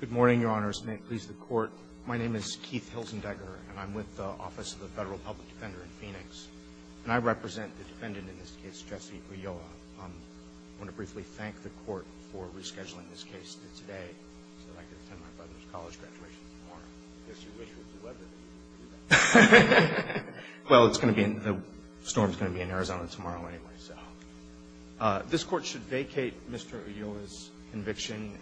Good morning, Your Honors. May it please the Court, my name is Keith Hilzendegger, and I am with the Office of the Federal Public Defender in Phoenix, and I represent the defendant in this case, Jesse Ulloa. I want to briefly thank the Court for rescheduling this case to today so that I can attend my brother's college graduation tomorrow. I guess you wish it was 11. Well, it's going to be, the storm is going to be in Arizona tomorrow anyway, so. This Court should vacate Mr. Ulloa's conviction.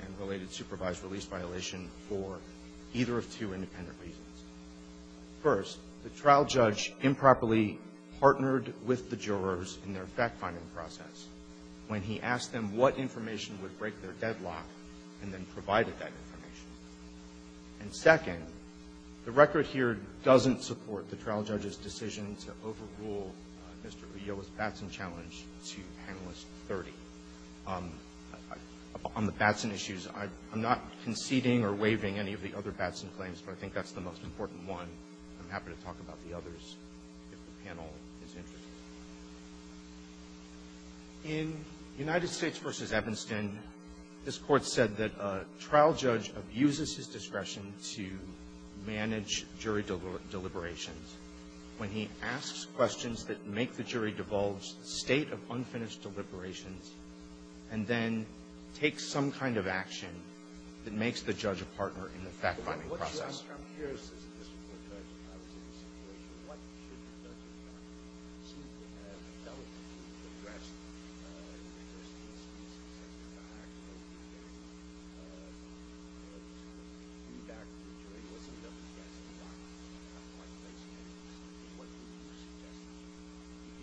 First, the trial judge improperly partnered with the jurors in their fact-finding process when he asked them what information would break their deadlock, and then provided that information. And second, the record here doesn't support the trial judge's decision to overrule Mr. Ulloa's Batson challenge to Panelist 30. On the Batson issue, there is no evidence that Mr. Ulloa's decision to overrule Mr. Ulloa's Batson challenge to Panelist 30 would have a negative effect on the trial judge's decision to overrule Mr. Ulloa's Batson challenge to Panelist 30. And so, I'm going to ask the Court to move the case forward. I'm not conceding or waiving any of the other Batson claims, but I think that's the most important one. I'm happy to talk about the others if the panel is interested. In United States v. Evanston, this Court said that a trial judge abuses his discretion to manage jury deliberations when he asks questions that make the jury divulge the state of unfinished deliberations, and then takes some kind of action that makes the judge a partner in the fact-finding process.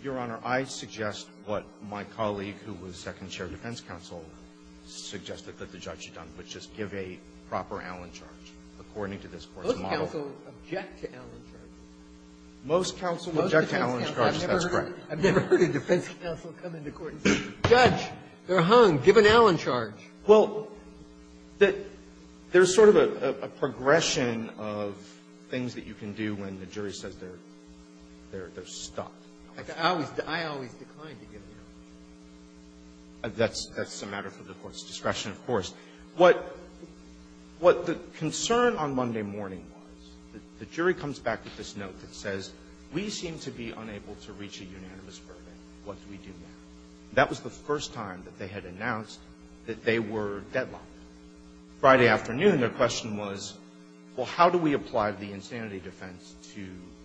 Your Honor, I suggest what my colleague, who was second chair of defense counsel, suggested that the judge had done, which is give a proper Allen charge, according to this Court's ruling. Most counsels object to Allen charges. Most counsels object to Allen charges. That's correct. I've never heard a defense counsel come into court and say, Judge, they're hung. Give an Allen charge. Well, there's sort of a progression of things that you can do when the jury says they're stopped. I always decline to give an Allen charge. That's a matter for the Court's discretion, of course. What the concern on Monday morning was, the jury comes back with this note that says, we seem to be unable to reach a unanimous verdict. What do we do now? That was the first time that they had announced that they were deadlocked. Friday afternoon, their question was, well, how do we apply the insanity defense to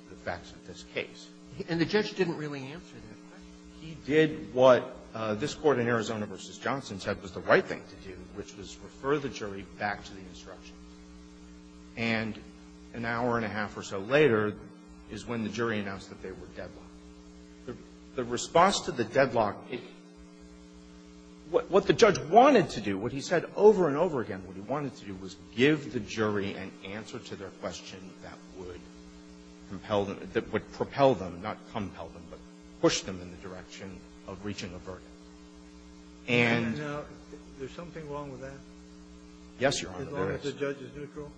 the facts of this case? And the judge didn't really answer that question. He did what this Court in Arizona v. Johnson said was the right thing to do, which was refer the jury back to the instructions. And an hour and a half or so later is when the jury announced that they were deadlocked. The response to the deadlock, what the judge wanted to do, what he said over and over again, what he wanted to do was give the jury an answer to their question that would propel them, not compel them, but push them in the direction of reaching a verdict. And there's something wrong with that. Yes, Your Honor, there is. As long as the judge is neutral?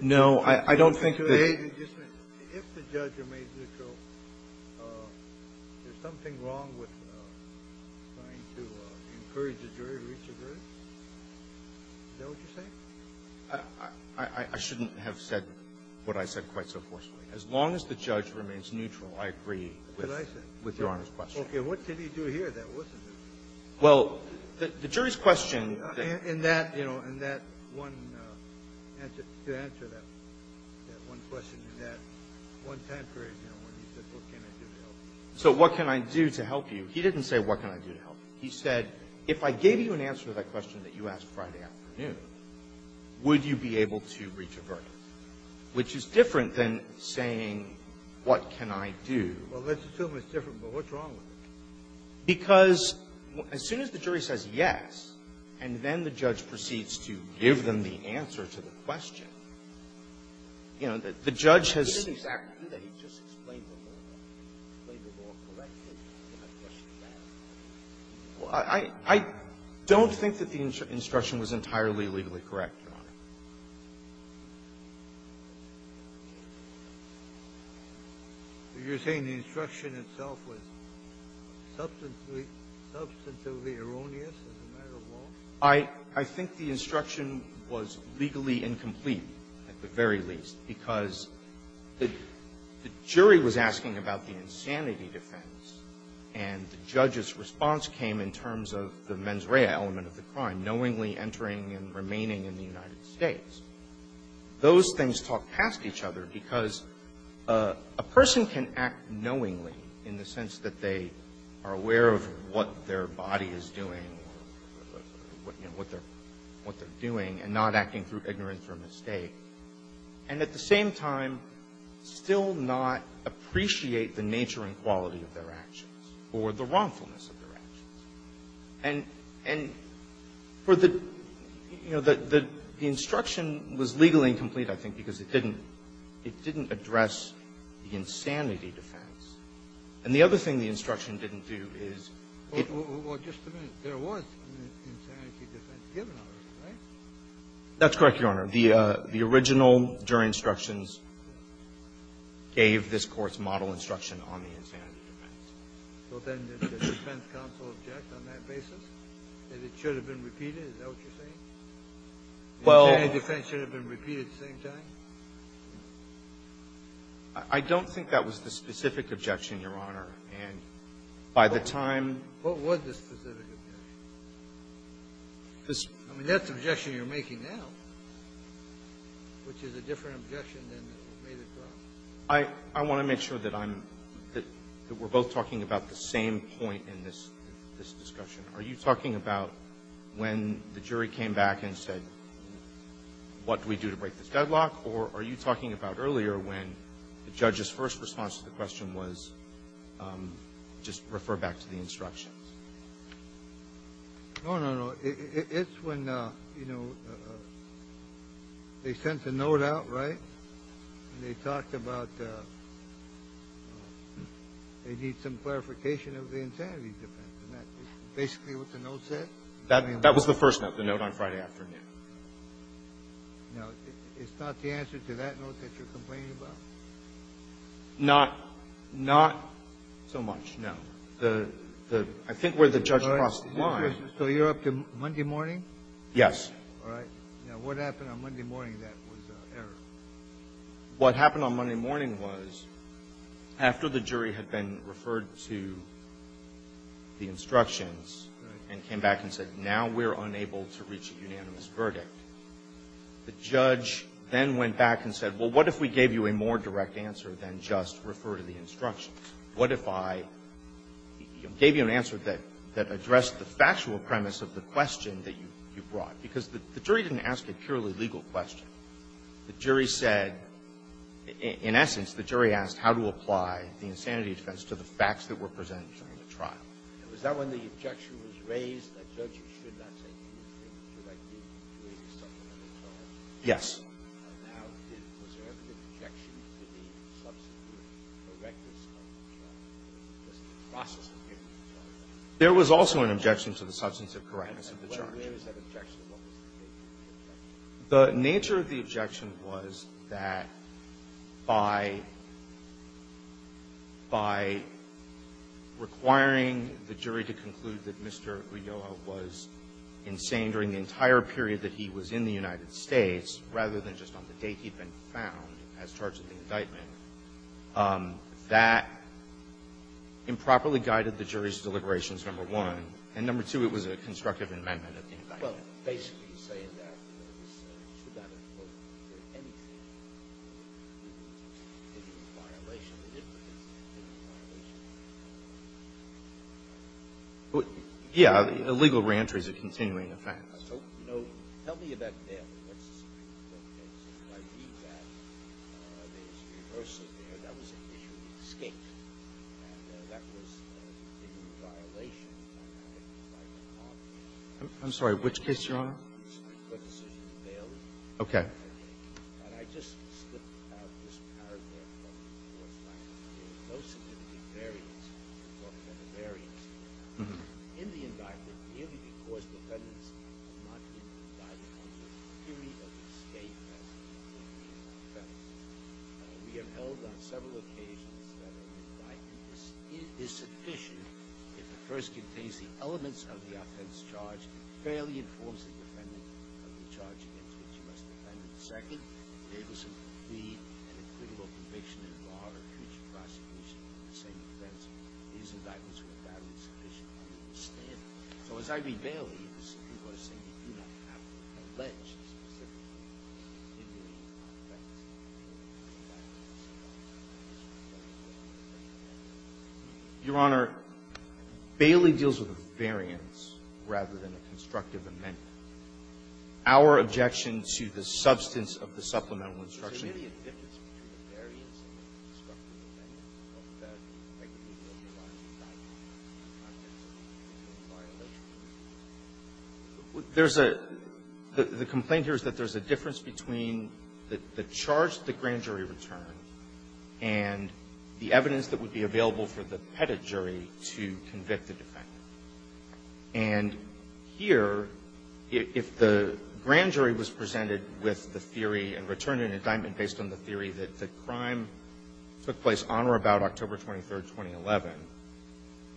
No, I don't think that they If the judge remains neutral, there's something wrong with trying to encourage the jury to reach a verdict? Is that what you're saying? I shouldn't have said what I said quite so forcefully. As long as the judge remains neutral, I agree with Your Honor's question. Okay. What did he do here that wasn't it? Well, the jury's question that In that, you know, in that one answer, to answer that one question in that one time period, you know, when he said, what can I do to help? So what can I do to help you? He didn't say what can I do to help you. He said, if I gave you an answer to that question that you asked Friday afternoon, would you be able to reach a verdict, which is different than saying, what can I do? Well, let's assume it's different, but what's wrong with it? Because as soon as the jury says yes, and then the judge proceeds to give them the answer to the question, you know, the judge has He didn't exactly do that. He just explained the law. He explained the law correctly. I don't think that the instruction was entirely legally correct, Your Honor. You're saying the instruction itself was substantively erroneous as a matter of law? I think the instruction was legally incomplete, at the very least, because the jury was asking about the insanity defense, and the judge's response came in terms of the mens rea element of the crime, knowingly entering and remaining in the United States. Those things talk past each other, because a person can act knowingly in the sense that they are aware of what their body is doing, what they're doing, and not acting through ignorance or mistake. And at the same time, still not appreciate the nature and quality of their actions or the wrongfulness of their actions. And for the – you know, the instruction was legally incomplete, I think, because it didn't address the insanity defense. And the other thing the instruction didn't do is it Well, just a minute. There was an insanity defense given on it, right? That's correct, Your Honor. The original jury instructions gave this Court's model instruction on the insanity defense. So then the defense counsel objected on that basis, that it should have been repeated? Is that what you're saying? Well – The insanity defense should have been repeated at the same time? I don't think that was the specific objection, Your Honor. And by the time What was the specific objection? I mean, that's the objection you're making now. Which is a different objection than the one that was made at trial. I want to make sure that I'm – that we're both talking about the same point in this discussion. Are you talking about when the jury came back and said, what do we do to break this deadlock? Or are you talking about earlier when the judge's first response to the question was, just refer back to the instructions? No, no, no. It's when, you know, they sent the note out, right? And they talked about they need some clarification of the insanity defense. Isn't that basically what the note said? That was the first note, the note on Friday afternoon. Now, it's not the answer to that note that you're complaining about? Not so much, no. The – I think where the judge crossed the line. So you're up to Monday morning? Yes. All right. Now, what happened on Monday morning that was error? What happened on Monday morning was, after the jury had been referred to the instructions and came back and said, now we're unable to reach a unanimous verdict, the judge then went back and said, well, what if we gave you a more direct answer than just refer to the instructions? What if I gave you an answer that addressed the factual premise of the question that you brought? Because the jury didn't ask a purely legal question. The jury said – in essence, the jury asked how to apply the insanity defense to the facts that were presented during the trial. Now, is that when the objection was raised that judges should not say anything about the fact that I didn't raise the subject of the trial? Yes. Now, was there ever an objection to the substantive correctness of the trial? It was the process of hearing the trial. There was also an objection to the substantive correctness of the trial. And where is that objection? What was the nature of the objection? The nature of the objection was that by – by requiring the jury to conclude that Mr. Ulloa was insane during the entire period that he was in the United States, rather than just on the date he'd been found as charged in the indictment, that improperly guided the jury's deliberations, number one. And number two, it was a constructive amendment of the indictment. Well, basically, you're saying that there was – should not have been anything to do with the violation of the indictment. It was a violation of the indictment. Yeah. Illegal reentry is a continuing offense. So, you know, tell me about Bailey. What's the significance of that case? If I read that, there was a reversal there. That was an issue of escape. And that was a different violation. I'm sorry. Which case, Your Honor? The decision of Bailey. Okay. And I just slipped out this paragraph. Most of it varies. It's often a variance. In the indictment, merely because defendants are not in the indictment under the theory of escape as a continuing offense. We have held on several occasions that an indictment is sufficient if it first contains the elements of the offense charged, fairly informs the defendant of the charge against you as the defendant. Second, it was a complete and equitable conviction in law or future prosecution of the same offense. These indictments were valid and sufficient under the standard. So, as I read Bailey, it was – people are saying that you do not have to allege a specific continuing offense. Your Honor, Bailey deals with a variance rather than a constructive amendment. Our objection to the substance of the supplemental instruction – So what is the difference between the variance and the constructive amendment of the negligence of our indictment in the context of the continuing violation? There's a – the complaint here is that there's a difference between the charge that the grand jury returned and the evidence that would be available for the pettit jury to convict the defendant. And here, if the grand jury was presented with the theory and returned an indictment based on the theory that the crime took place on or about October 23, 2011,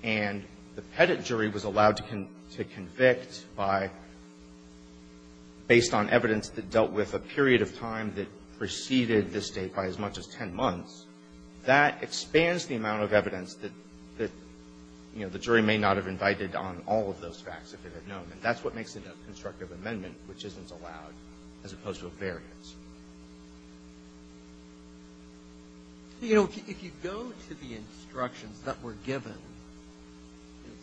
and the pettit jury was allowed to convict by – based on evidence that dealt with a period of time that preceded this date by as much as 10 months, that expands the amount of evidence that, you know, the jury may not have invited on all of those facts if it had known. And that's what makes it a constructive amendment, which isn't allowed, as opposed to a variance. So, you know, if you go to the instructions that were given,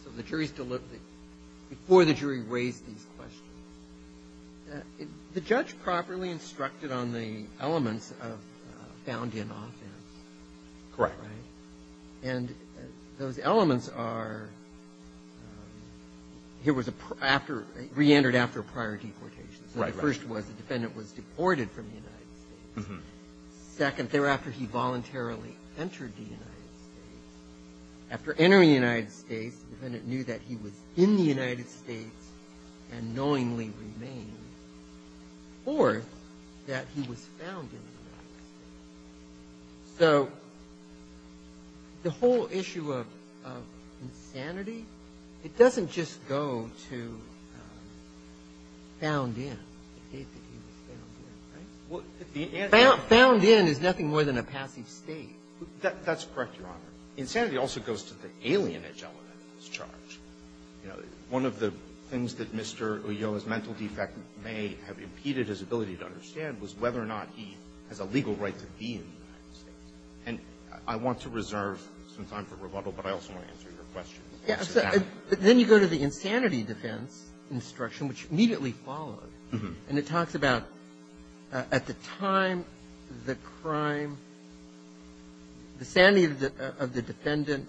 so the jury's deliberately – before the jury raised these questions, the judge properly instructed on the elements of found in offense. Correct. Right? And those elements are – here was a – after – reentered after a prior deportation. Right, right. So the first was the defendant was deported from the United States. Second, thereafter, he voluntarily entered the United States. After entering the United States, the defendant knew that he was in the United States and knowingly remained. Or that he was found in the United States. So the whole issue of insanity, it doesn't just go to found in, the date that he was found in. Right? Well, the answer is – Found in is nothing more than a passive state. That's correct, Your Honor. Insanity also goes to the alienage element that's charged. You know, one of the things that Mr. Ulloa's mental defect may have impeded his ability to understand was whether or not he has a legal right to be in the United States. And I want to reserve some time for rebuttal, but I also want to answer your question. Yes. So then you go to the insanity defense instruction, which immediately followed. And it talks about at the time the crime – the sanity of the defendant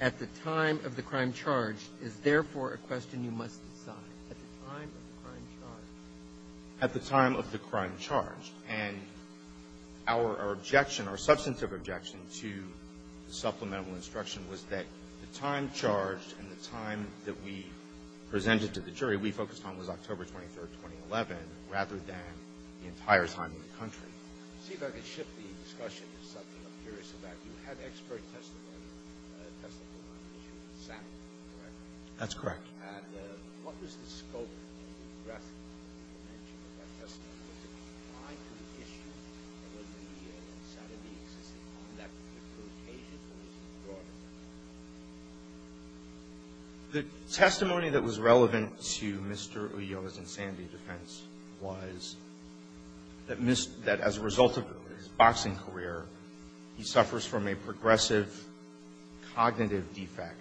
at the time of the crime charged is therefore a question you must decide. At the time of the crime charged. At the time of the crime charged. And our objection, our substantive objection to the supplemental instruction was that the time charged and the time that we presented to the jury, we focused on was October 23rd, 2011, rather than the entire time in the country. See if I can shift the discussion to something I'm curious about. You had expert testimony on the issue of sanity, correct? That's correct. And what was the scope and breadth of that testimony? Was it a crime-proof issue? Or was the insanity existing on that particular occasion? Or was it broader than that? The testimony that was relevant to Mr. Ulloa's insanity defense was that as a person in his boxing career, he suffers from a progressive cognitive defect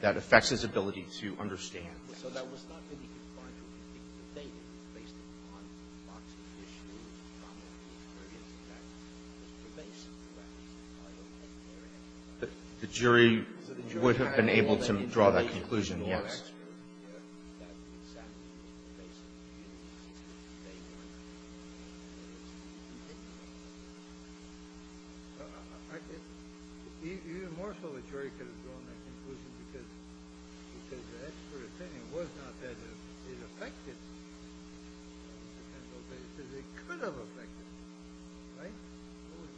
that affects his ability to understand. So that was not really a crime-proof issue, but they did, based upon the boxing issue, the cognitive defect. It was a basic defect. I don't think there is a crime-proof issue. The jury would have been able to draw that conclusion, yes. Yes, sir. Even more so, the jury could have drawn that conclusion because the expert opinion was not that it affected me. It could have affected me. Right? It was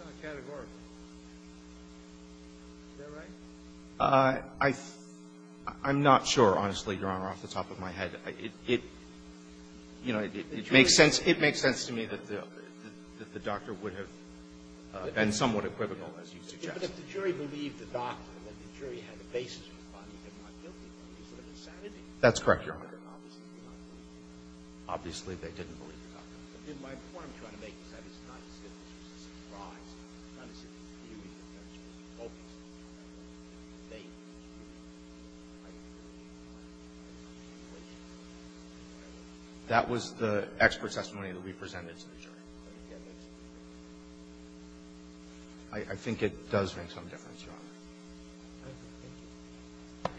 not categorical. Is that right? I'm not sure, honestly, Your Honor, off the top of my head. You know, it makes sense to me that the doctor would have been somewhat equivocal, as you suggested. But if the jury believed the doctor, then the jury had the basis to find that they're not guilty. It's insanity. That's correct, Your Honor. Obviously, they didn't believe the doctor. My point I'm trying to make is that it's not a civil case. It's a surprise. It's not a civil case. The jury was focused on the jury. They didn't believe the doctor. I didn't believe the doctor. I didn't believe the jury. That was the expert testimony that we presented to the jury. Yes, that's correct. I think it does make some difference, Your Honor. Thank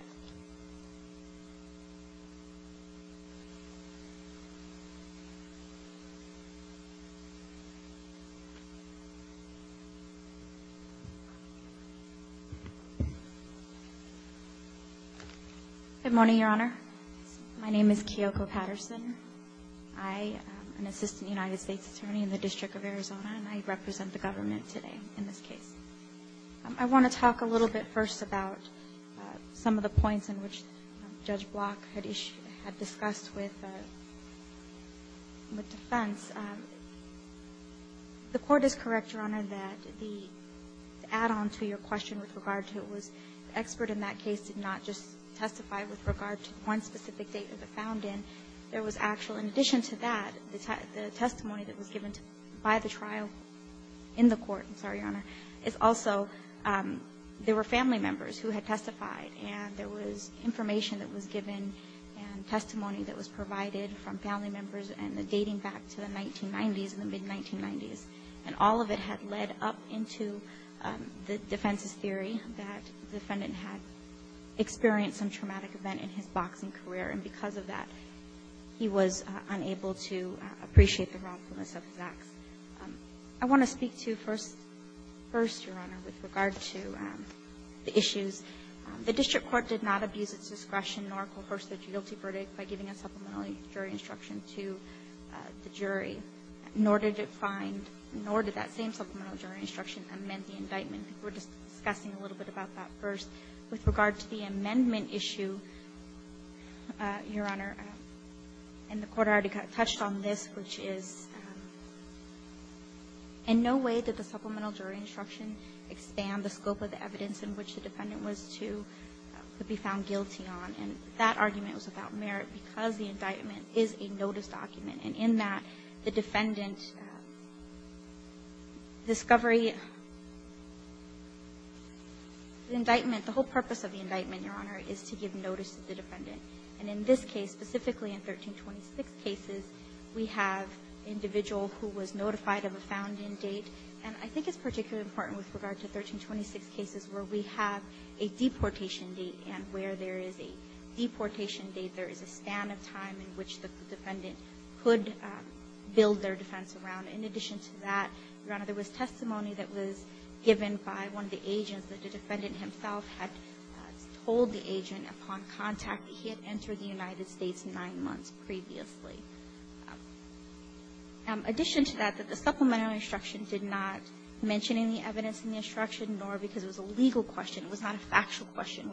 you. Good morning, Your Honor. My name is Kiyoko Patterson. I am an Assistant United States Attorney in the District of Arizona, and I represent the government today in this case. I want to talk a little bit first about some of the points in which Judge Block had discussed with defense about the importance of the evidence. The court is correct, Your Honor, that the add-on to your question with regard to it was the expert in that case did not just testify with regard to one specific date of the found in. There was actual, in addition to that, the testimony that was given by the trial in the court, I'm sorry, Your Honor, is also there were family members who had testified, and there was information that was given and testimony that was provided from family members and the dating back to the 1990s and the mid-1990s. And all of it had led up into the defense's theory that the defendant had experienced some traumatic event in his boxing career, and because of that, he was unable to appreciate the wrongfulness of his acts. I want to speak to first, Your Honor, with regard to the issues. The district court did not abuse its discretion nor coerce the guilty verdict by giving a supplemental jury instruction to the jury, nor did it find, nor did that same supplemental jury instruction amend the indictment. We're just discussing a little bit about that first. With regard to the amendment issue, Your Honor, and the court already touched on this, which is in no way did the supplemental jury instruction expand the scope of the evidence in which the defendant was to be found guilty on. And that argument was without merit because the indictment is a notice document, and in that, the defendant discovery, the indictment, the whole purpose of the indictment, Your Honor, is to give notice to the defendant. And in this case, specifically in 1326 cases, we have an individual who was notified of a found-in date, and I think it's particularly important with regard to 1326 cases where we have a deportation date and where there is a deportation date, there is a span of time in which the defendant could build their defense around. In addition to that, Your Honor, there was testimony that was given by one of the agents that the defendant himself had told the agent upon contact that he had entered the United States nine months previously. In addition to that, the supplemental instruction did not mention any evidence in the instruction, nor because it was a legal question, it was not a factual question,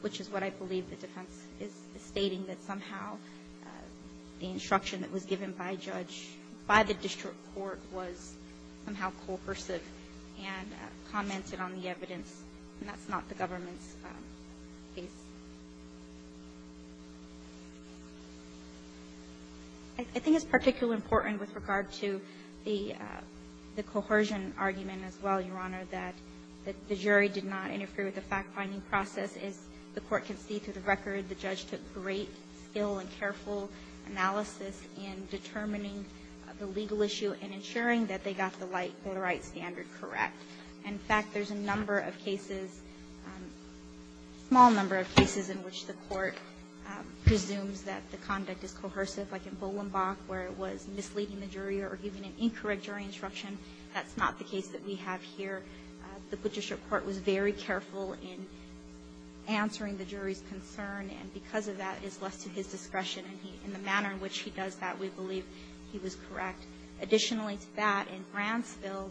which is what I believe the defense is stating, that somehow the instruction that was given by a judge, by the district court, was somehow coercive and commented on the evidence, and that's not the government's case. I think it's particularly important with regard to the coercion argument as well, Your Honor, that the jury did not interfere with the fact-finding process. As the court can see through the record, the judge took great skill and careful analysis in determining the legal issue and ensuring that they got the right standard correct. In fact, there's a number of cases, a small number of cases, in which the court presumes that the conduct is coercive, like in Bolenbach, where it was misleading the jury or giving an incorrect jury instruction. That's not the case that we have here. The Butchership Court was very careful in answering the jury's concern, and because of that, it's left to his discretion, and in the manner in which he does that, we believe he was correct. Additionally to that, in Bransfield,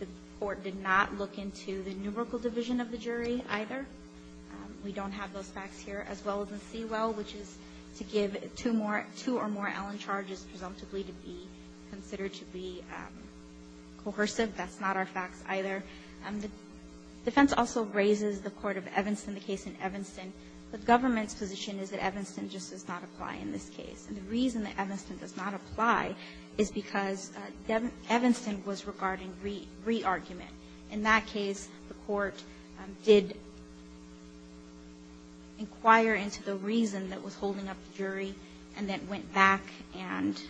the court did not look into the numerical division of the jury either. We don't have those facts here, as well as in Sewell, which is to give two or more Allen charges presumptively to be considered to be coercive. That's not our facts either. The defense also raises the court of Evanston, the case in Evanston. The government's position is that Evanston just does not apply in this case. And the reason that Evanston does not apply is because Evanston was regarding re-argument. In that case, the court did inquire into the reason that was holding up the jury and then went back and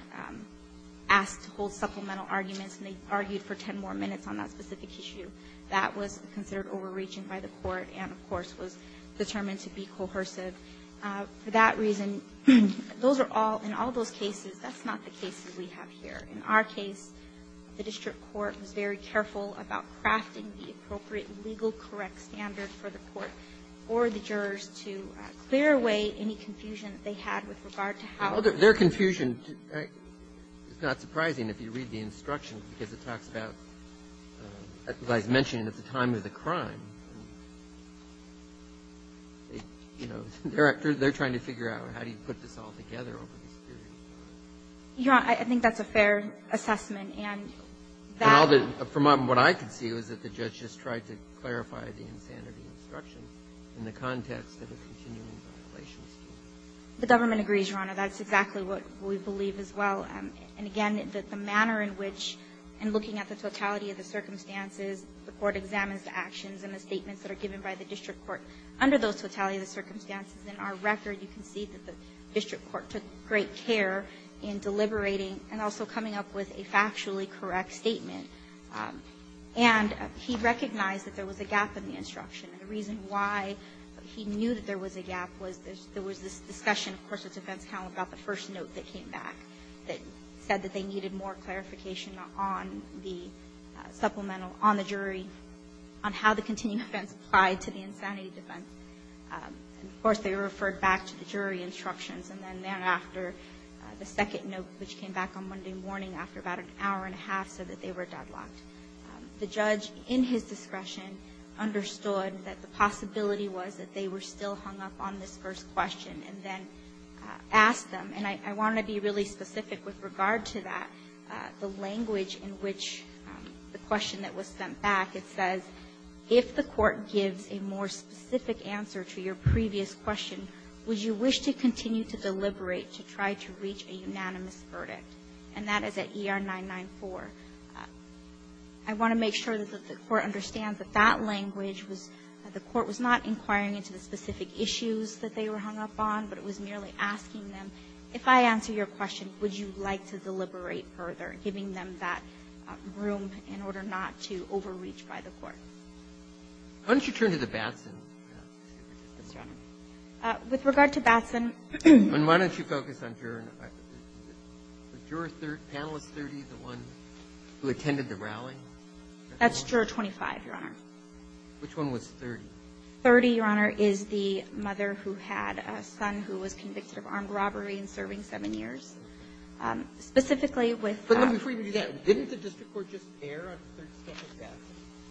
asked to hold supplemental arguments, and they argued for ten more minutes on that specific issue. That was considered overreaching by the court and, of course, was determined to be coercive. For that reason, those are all, in all those cases, that's not the case that we have here. In our case, the district court was very careful about crafting the appropriate legal correct standard for the court or the jurors to clear away any confusion that they had with regard to how to do it. Well, their confusion, it's not surprising if you read the instructions, because it talks about, as I was mentioning, at the time of the crime. You know, they're trying to figure out how do you put this all together over this period of time. Your Honor, I think that's a fair assessment. And that was the case. From what I could see was that the judge just tried to clarify the insanity instructions in the context of a continuing violation. The government agrees, Your Honor. That's exactly what we believe as well. And again, the manner in which, in looking at the totality of the circumstances, the court examines the actions and the statements that are given by the district court under those totality of the circumstances. In our record, you can see that the district court took great care in deliberating and also coming up with a factually correct statement. And he recognized that there was a gap in the instruction. The reason why he knew that there was a gap was there was this discussion, of course, with defense counsel about the first note that came back that said that they needed more clarification on the supplemental, on the jury, on how the continuing offense applied to the insanity defense. Of course, they referred back to the jury instructions. And then thereafter, the second note, which came back on Monday morning after about an hour and a half, said that they were deadlocked. The judge, in his discretion, understood that the possibility was that they were still hung up on this first question and then asked them. And I want to be really specific with regard to that. The language in which the question that was sent back, it says, if the court gives a more specific answer to your previous question, would you wish to continue to deliberate to try to reach a unanimous verdict? And that is at ER 994. I want to make sure that the Court understands that that language was, that the Court was not inquiring into the specific issues that they were hung up on, but it was merely asking them, if I answer your question, would you like to deliberate further, giving them that room in order not to overreach by the Court. Why don't you turn to the Batson? Yes, Your Honor. With regard to Batson. And why don't you focus on Jura 30, the one who attended the rally? That's Jura 25, Your Honor. Which one was 30? 30, Your Honor, is the mother who had a son who was convicted of armed robbery and serving 7 years. Specifically with the ---- But before you do that, didn't the district court just err on the third step of Batson?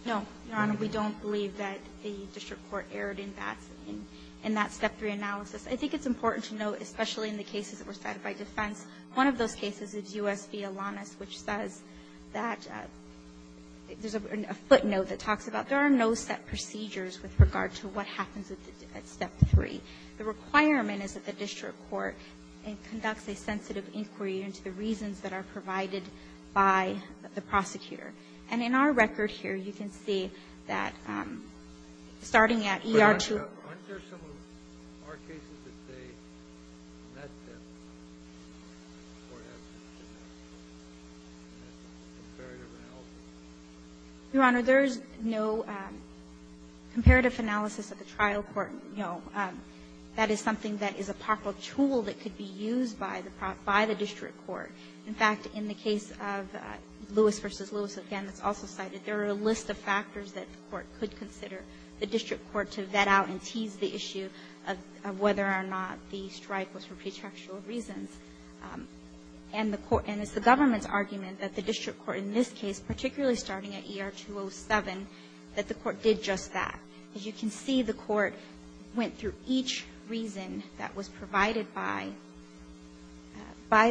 No, Your Honor. We don't believe that the district court erred in Batson, in that step 3 analysis. I think it's important to note, especially in the cases that were cited by defense, one of those cases is U.S. v. Alanis, which says that there's a footnote that talks about there are no set procedures with regard to what happens at step 3. The requirement is that the district court conducts a sensitive inquiry into the reasons that are provided by the prosecutor. And in our record here, you can see that starting at ER 2 ---- Your Honor, there is no comparative analysis of the trial court, no. That is something that is a proper tool that could be used by the district court. In fact, in the case of Lewis v. Lewis, again, that's also cited, there are a list of factors that the court could consider, the district court to vet out and tease the issue of whether or not the strike was for pretextual reasons. And the court ---- and it's the government's argument that the district court in this case, particularly starting at ER 207, that the court did just that. As you can see, the court went through each reason that was provided by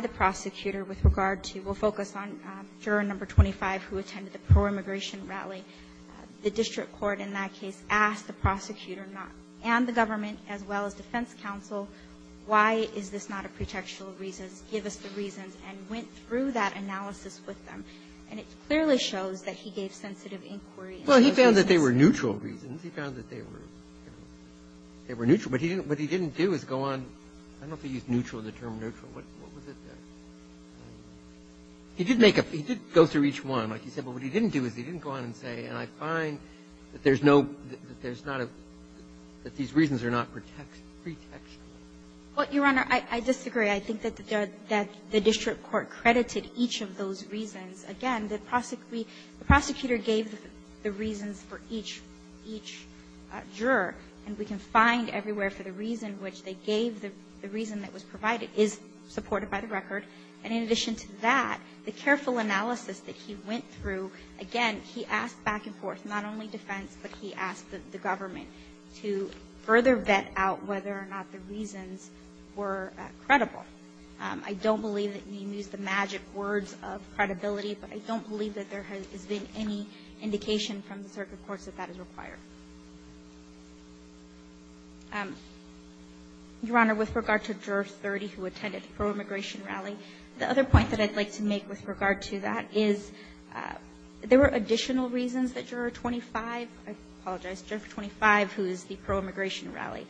the prosecutor with regard to ---- we'll focus on juror number 25 who attended the pro-immigration rally. The district court in that case asked the prosecutor and the government, as well as defense counsel, why is this not a pretextual reason? Give us the reasons, and went through that analysis with them. And it clearly shows that he gave sensitive inquiry. Well, he found that they were neutral reasons. He found that they were neutral. But what he didn't do is go on ---- I don't know if he used neutral, the term neutral. What was it? He did make a ---- he did go through each one, like you said. But what he didn't do is he didn't go on and say, and I find that there's no ---- that there's not a ---- that these reasons are not pretextual. Well, Your Honor, I disagree. I think that the district court credited each of those reasons. Again, the prosecutor gave the reasons for each juror. And we can find everywhere for the reason which they gave the reason that was provided is supported by the record. And in addition to that, the careful analysis that he went through, again, he asked back and forth, not only defense, but he asked the government to further vet out whether or not the reasons were credible. I don't believe that you can use the magic words of credibility, but I don't believe that there has been any indication from the circuit courts that that is required. Your Honor, with regard to Juror 30 who attended the pro-immigration rally, the other point that I'd like to make with regard to that is there were additional reasons that Juror 25 ---- I apologize, Juror 25, who is the pro-immigration rally,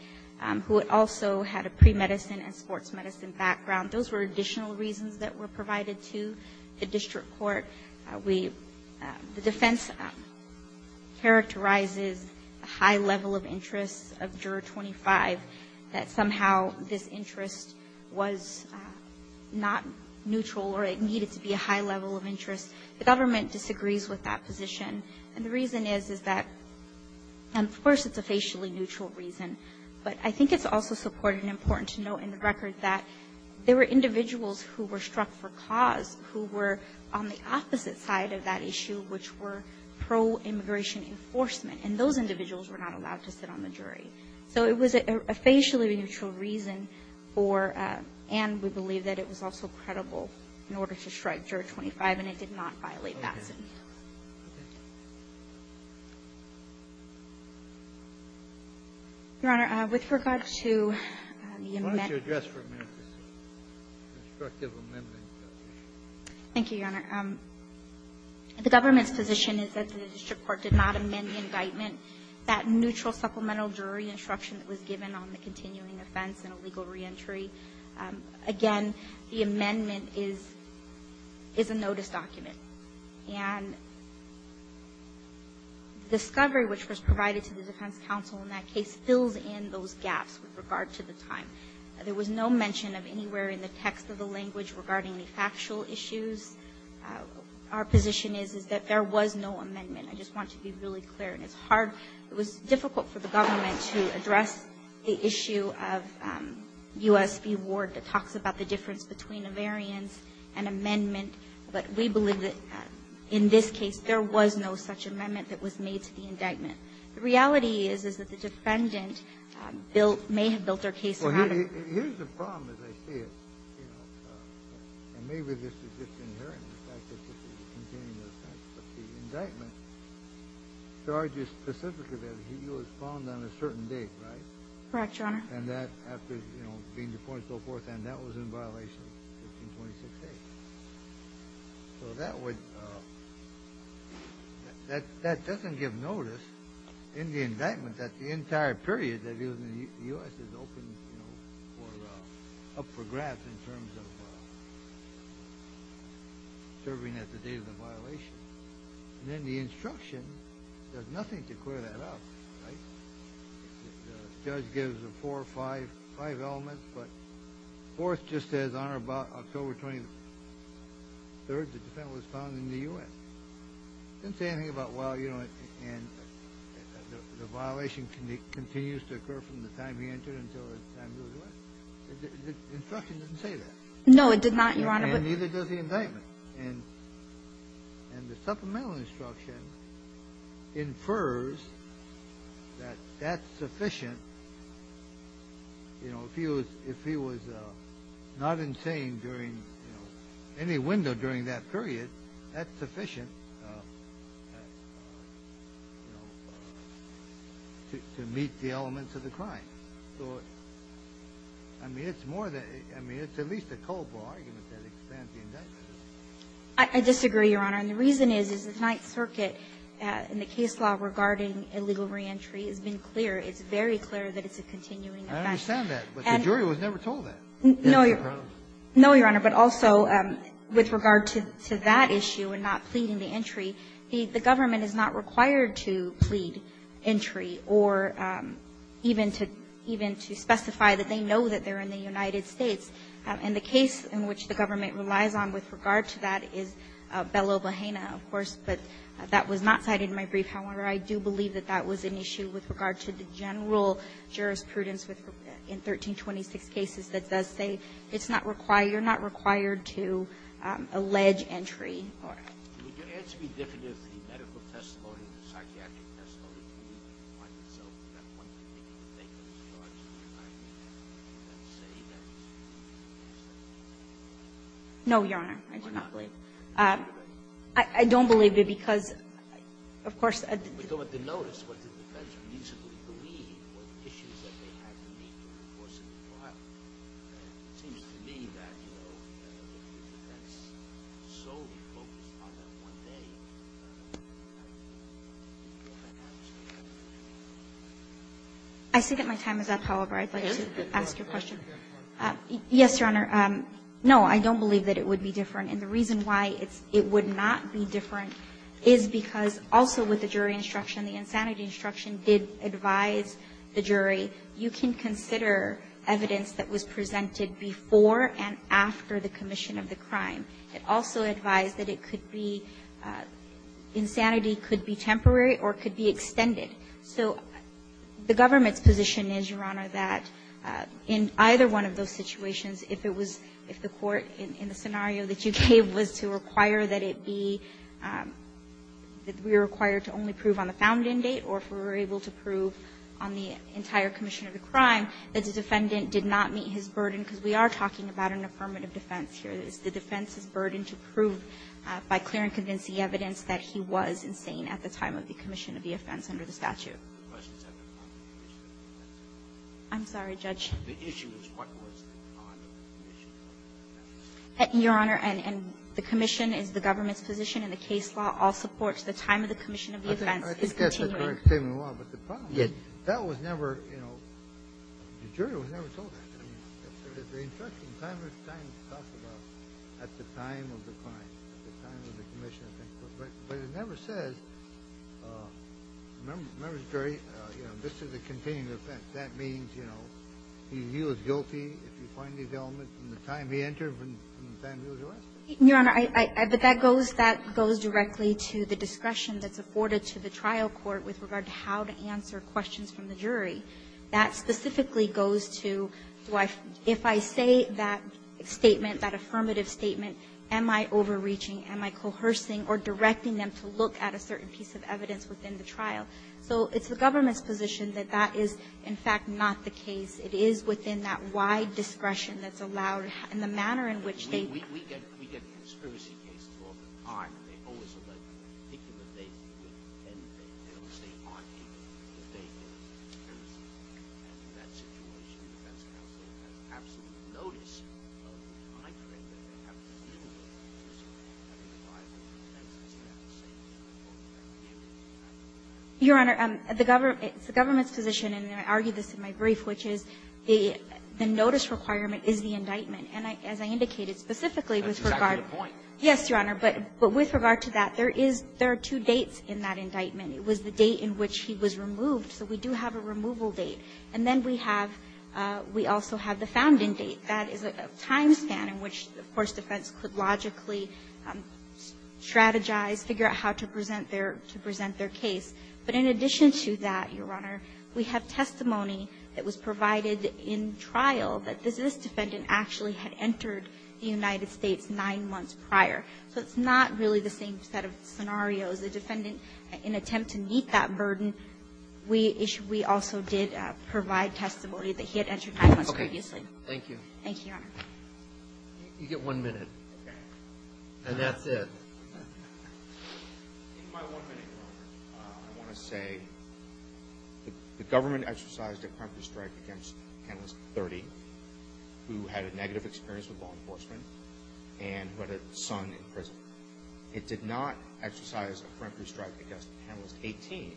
who also had a premedicine and sports medicine background, those were additional reasons that were provided to the district court. We ---- the defense characterizes a high level of interest of Juror 25, that somehow this interest was not neutral or it needed to be a high level of interest. The government disagrees with that position, and the reason is, is that, of course, it's a facially neutral reason, but I think it's also supported and important to note in the record that there were individuals who were struck for cause who were on the opposite side of that issue, which were pro-immigration enforcement, and those individuals were not allowed to sit on the jury. So it was a facially neutral reason for ---- and we believe that it was also credible in order to strike Juror 25, and it did not violate that. Thank you, Your Honor. With regard to the amendment ---- Why don't you address for a minute this instructive amendment? Thank you, Your Honor. The government's position is that the district court did not amend the indictment. That neutral supplemental jury instruction that was given on the continuing offense and a legal reentry, again, the amendment is ---- is a notice document. And the discovery which was provided to the defense counsel in that case fills in those gaps with regard to the time. There was no mention of anywhere in the text of the language regarding any factual issues. Our position is, is that there was no amendment. I just want to be really clear, and it's hard ---- it was difficult for the government to address the issue of U.S. v. Ward that talks about the difference between a variance and amendment, but we believe that in this case there was no such amendment that was made to the indictment. The reality is, is that the defendant built ---- may have built their case around it. Well, here's the problem, as I see it, and maybe this is just inherent in the fact that this is continuing offense, but the indictment charges specifically that he was found on a certain date, right? Correct, Your Honor. And that, after, you know, being the point so forth, and that was in violation of 1526A. So that would ---- that doesn't give notice in the indictment that the entire period that he was in the U.S. is open, you know, for ---- up for grabs in terms of serving at the date of the violation. And then the instruction does nothing to the indictment. And the supplemental instruction infers that that's sufficient to meet the elements of the crime. So, I mean, it's more than ---- I mean, it's at least a culpable argument that expands the indictment. I disagree, Your Honor. And the reason is, is the Ninth Circuit in the case law regarding illegal reentry has been clear. It's very clear that it's a continuing offense. I understand that, but the jury was never told that. No, Your Honor. No, Your Honor. But also, with regard to that issue and not pleading the entry, the government is not required to plead entry or even to ---- even to specify that they know that they're in the United States. And the case in which the government relies on with regard to that is Belo Bahena, of course, but that was not cited in my brief. However, I do believe that that was an issue with regard to the general jurisprudence in 1326 cases that does say it's not required, you're not required to allege entry or ---- Would your answer be different if the medical testimony, the psychiatric testimony, did not find itself at one point making a statement in regard to the indictment and say that ---- No, Your Honor. I do not believe. I don't believe it because, of course ---- I see that my time is up, however. I'd like to ask your question. Yes, Your Honor. No, I don't believe that it would be different. And the reason why it's ---- it would not be different is because also with the jury instruction, the insanity instruction did advise the jury, you can consider evidence that was presented before and after the commission of the crime. It also advised that it could be ---- insanity could be temporary or could be extended. So the government's position is, Your Honor, that in either one of those situations, if it was ---- if the court in the scenario that you gave was to require that it be ---- that we were required to only prove on the found-in date or if we were able to prove on the entire commission of the crime, that the defendant did not meet his burden, because we are talking about an affirmative defense here. It's the defense's burden to prove by clear and convincing evidence that he was insane at the time of the commission of the offense under the statute. I'm sorry, Judge. The issue is what was the bond of the commission of the offense. Your Honor, and the commission is the government's position in the case law, all supports the time of the commission of the offense is continuing. I think that's the correct statement of the law. But the problem is that was never, you know, the jury was never told that. I mean, there's the instruction, time is time to talk about at the time of the crime, at the time of the commission of the offense. But it never says, remember the jury, you know, this is a continuing offense. That means, you know, he was guilty if you find his element from the time he entered and the time he was arrested. Your Honor, I think that goes directly to the discretion that's afforded to the trial court with regard to how to answer questions from the jury. That specifically goes to if I say that statement, that affirmative statement, am I overreaching, am I coercing or directing them to look at a certain piece of evidence within the trial? So it's the government's position that that is, in fact, not the case. It is within that wide discretion that's allowed in the manner in which they Your Honor, the government's position, and I argue this in my brief, which is, the notice requirement is the indictment. And as I indicated, specifically with regard to the point, yes, Your Honor, but with regard to that, there is, there are two dates in that indictment. It was the date in which he was removed, so we do have a removal date. And then we have, we also have the founding date. That is a time span in which, of course, defense could logically strategize, figure out how to present their, to present their case. But in addition to that, Your Honor, we have testimony that was provided in trial that this defendant actually had entered the United States nine months prior. So it's not really the same set of scenarios. The defendant, in an attempt to meet that burden, we issue, we also did provide testimony that he had entered nine months previously. Thank you. Thank you, Your Honor. You get one minute, and that's it. In my one minute, Your Honor, I want to say the government exercised a peremptory strike against Penalist 30, who had a negative experience with law enforcement, and who had a son in prison. It did not exercise a peremptory strike against Penalist 18,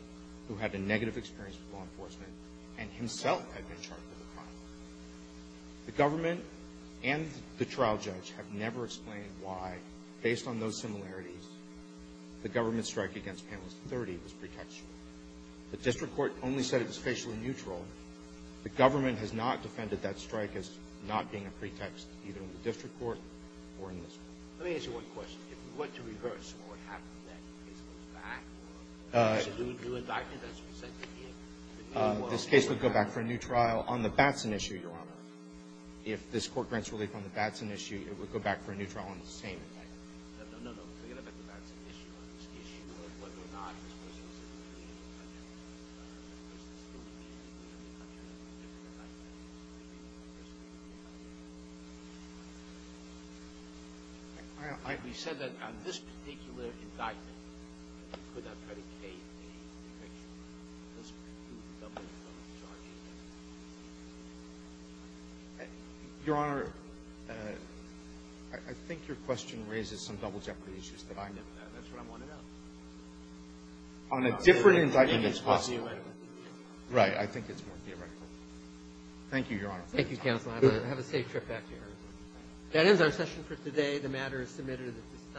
who had a negative experience with law enforcement, and himself had been charged with a crime. The government and the trial judge have never explained why, based on those similarities, the government's strike against Penalist 30 was pretextual. The district court only said it was facially neutral. The government has not defended that strike as not being a pretext, either in the district court or in this court. Let me ask you one question. If we went to reverse what would happen then? The case would go back, or there's a new indictment that's presented here. This case would go back for a new trial on the Batson issue, Your Honor. If this court grants relief on the Batson issue, it would go back for a new trial on the same indictment. No, no, no. Forget about the Batson issue or this issue, or whether or not this was a specific indictment. It was a specific indictment, it was a specific indictment. It was a specific indictment. We said that on this particular indictment we could not predicate a pretextual one. This would be a double-double-charging indictment. Your Honor, I think your question raises some double jeopardy issues that I know about. That's what I'm wondering about. On a different indictment, it's possible. Right, I think it's more theoretical. Thank you, Your Honor. Thank you, counsel. Have a safe trip back here. That ends our session for today. The matter is submitted at this time.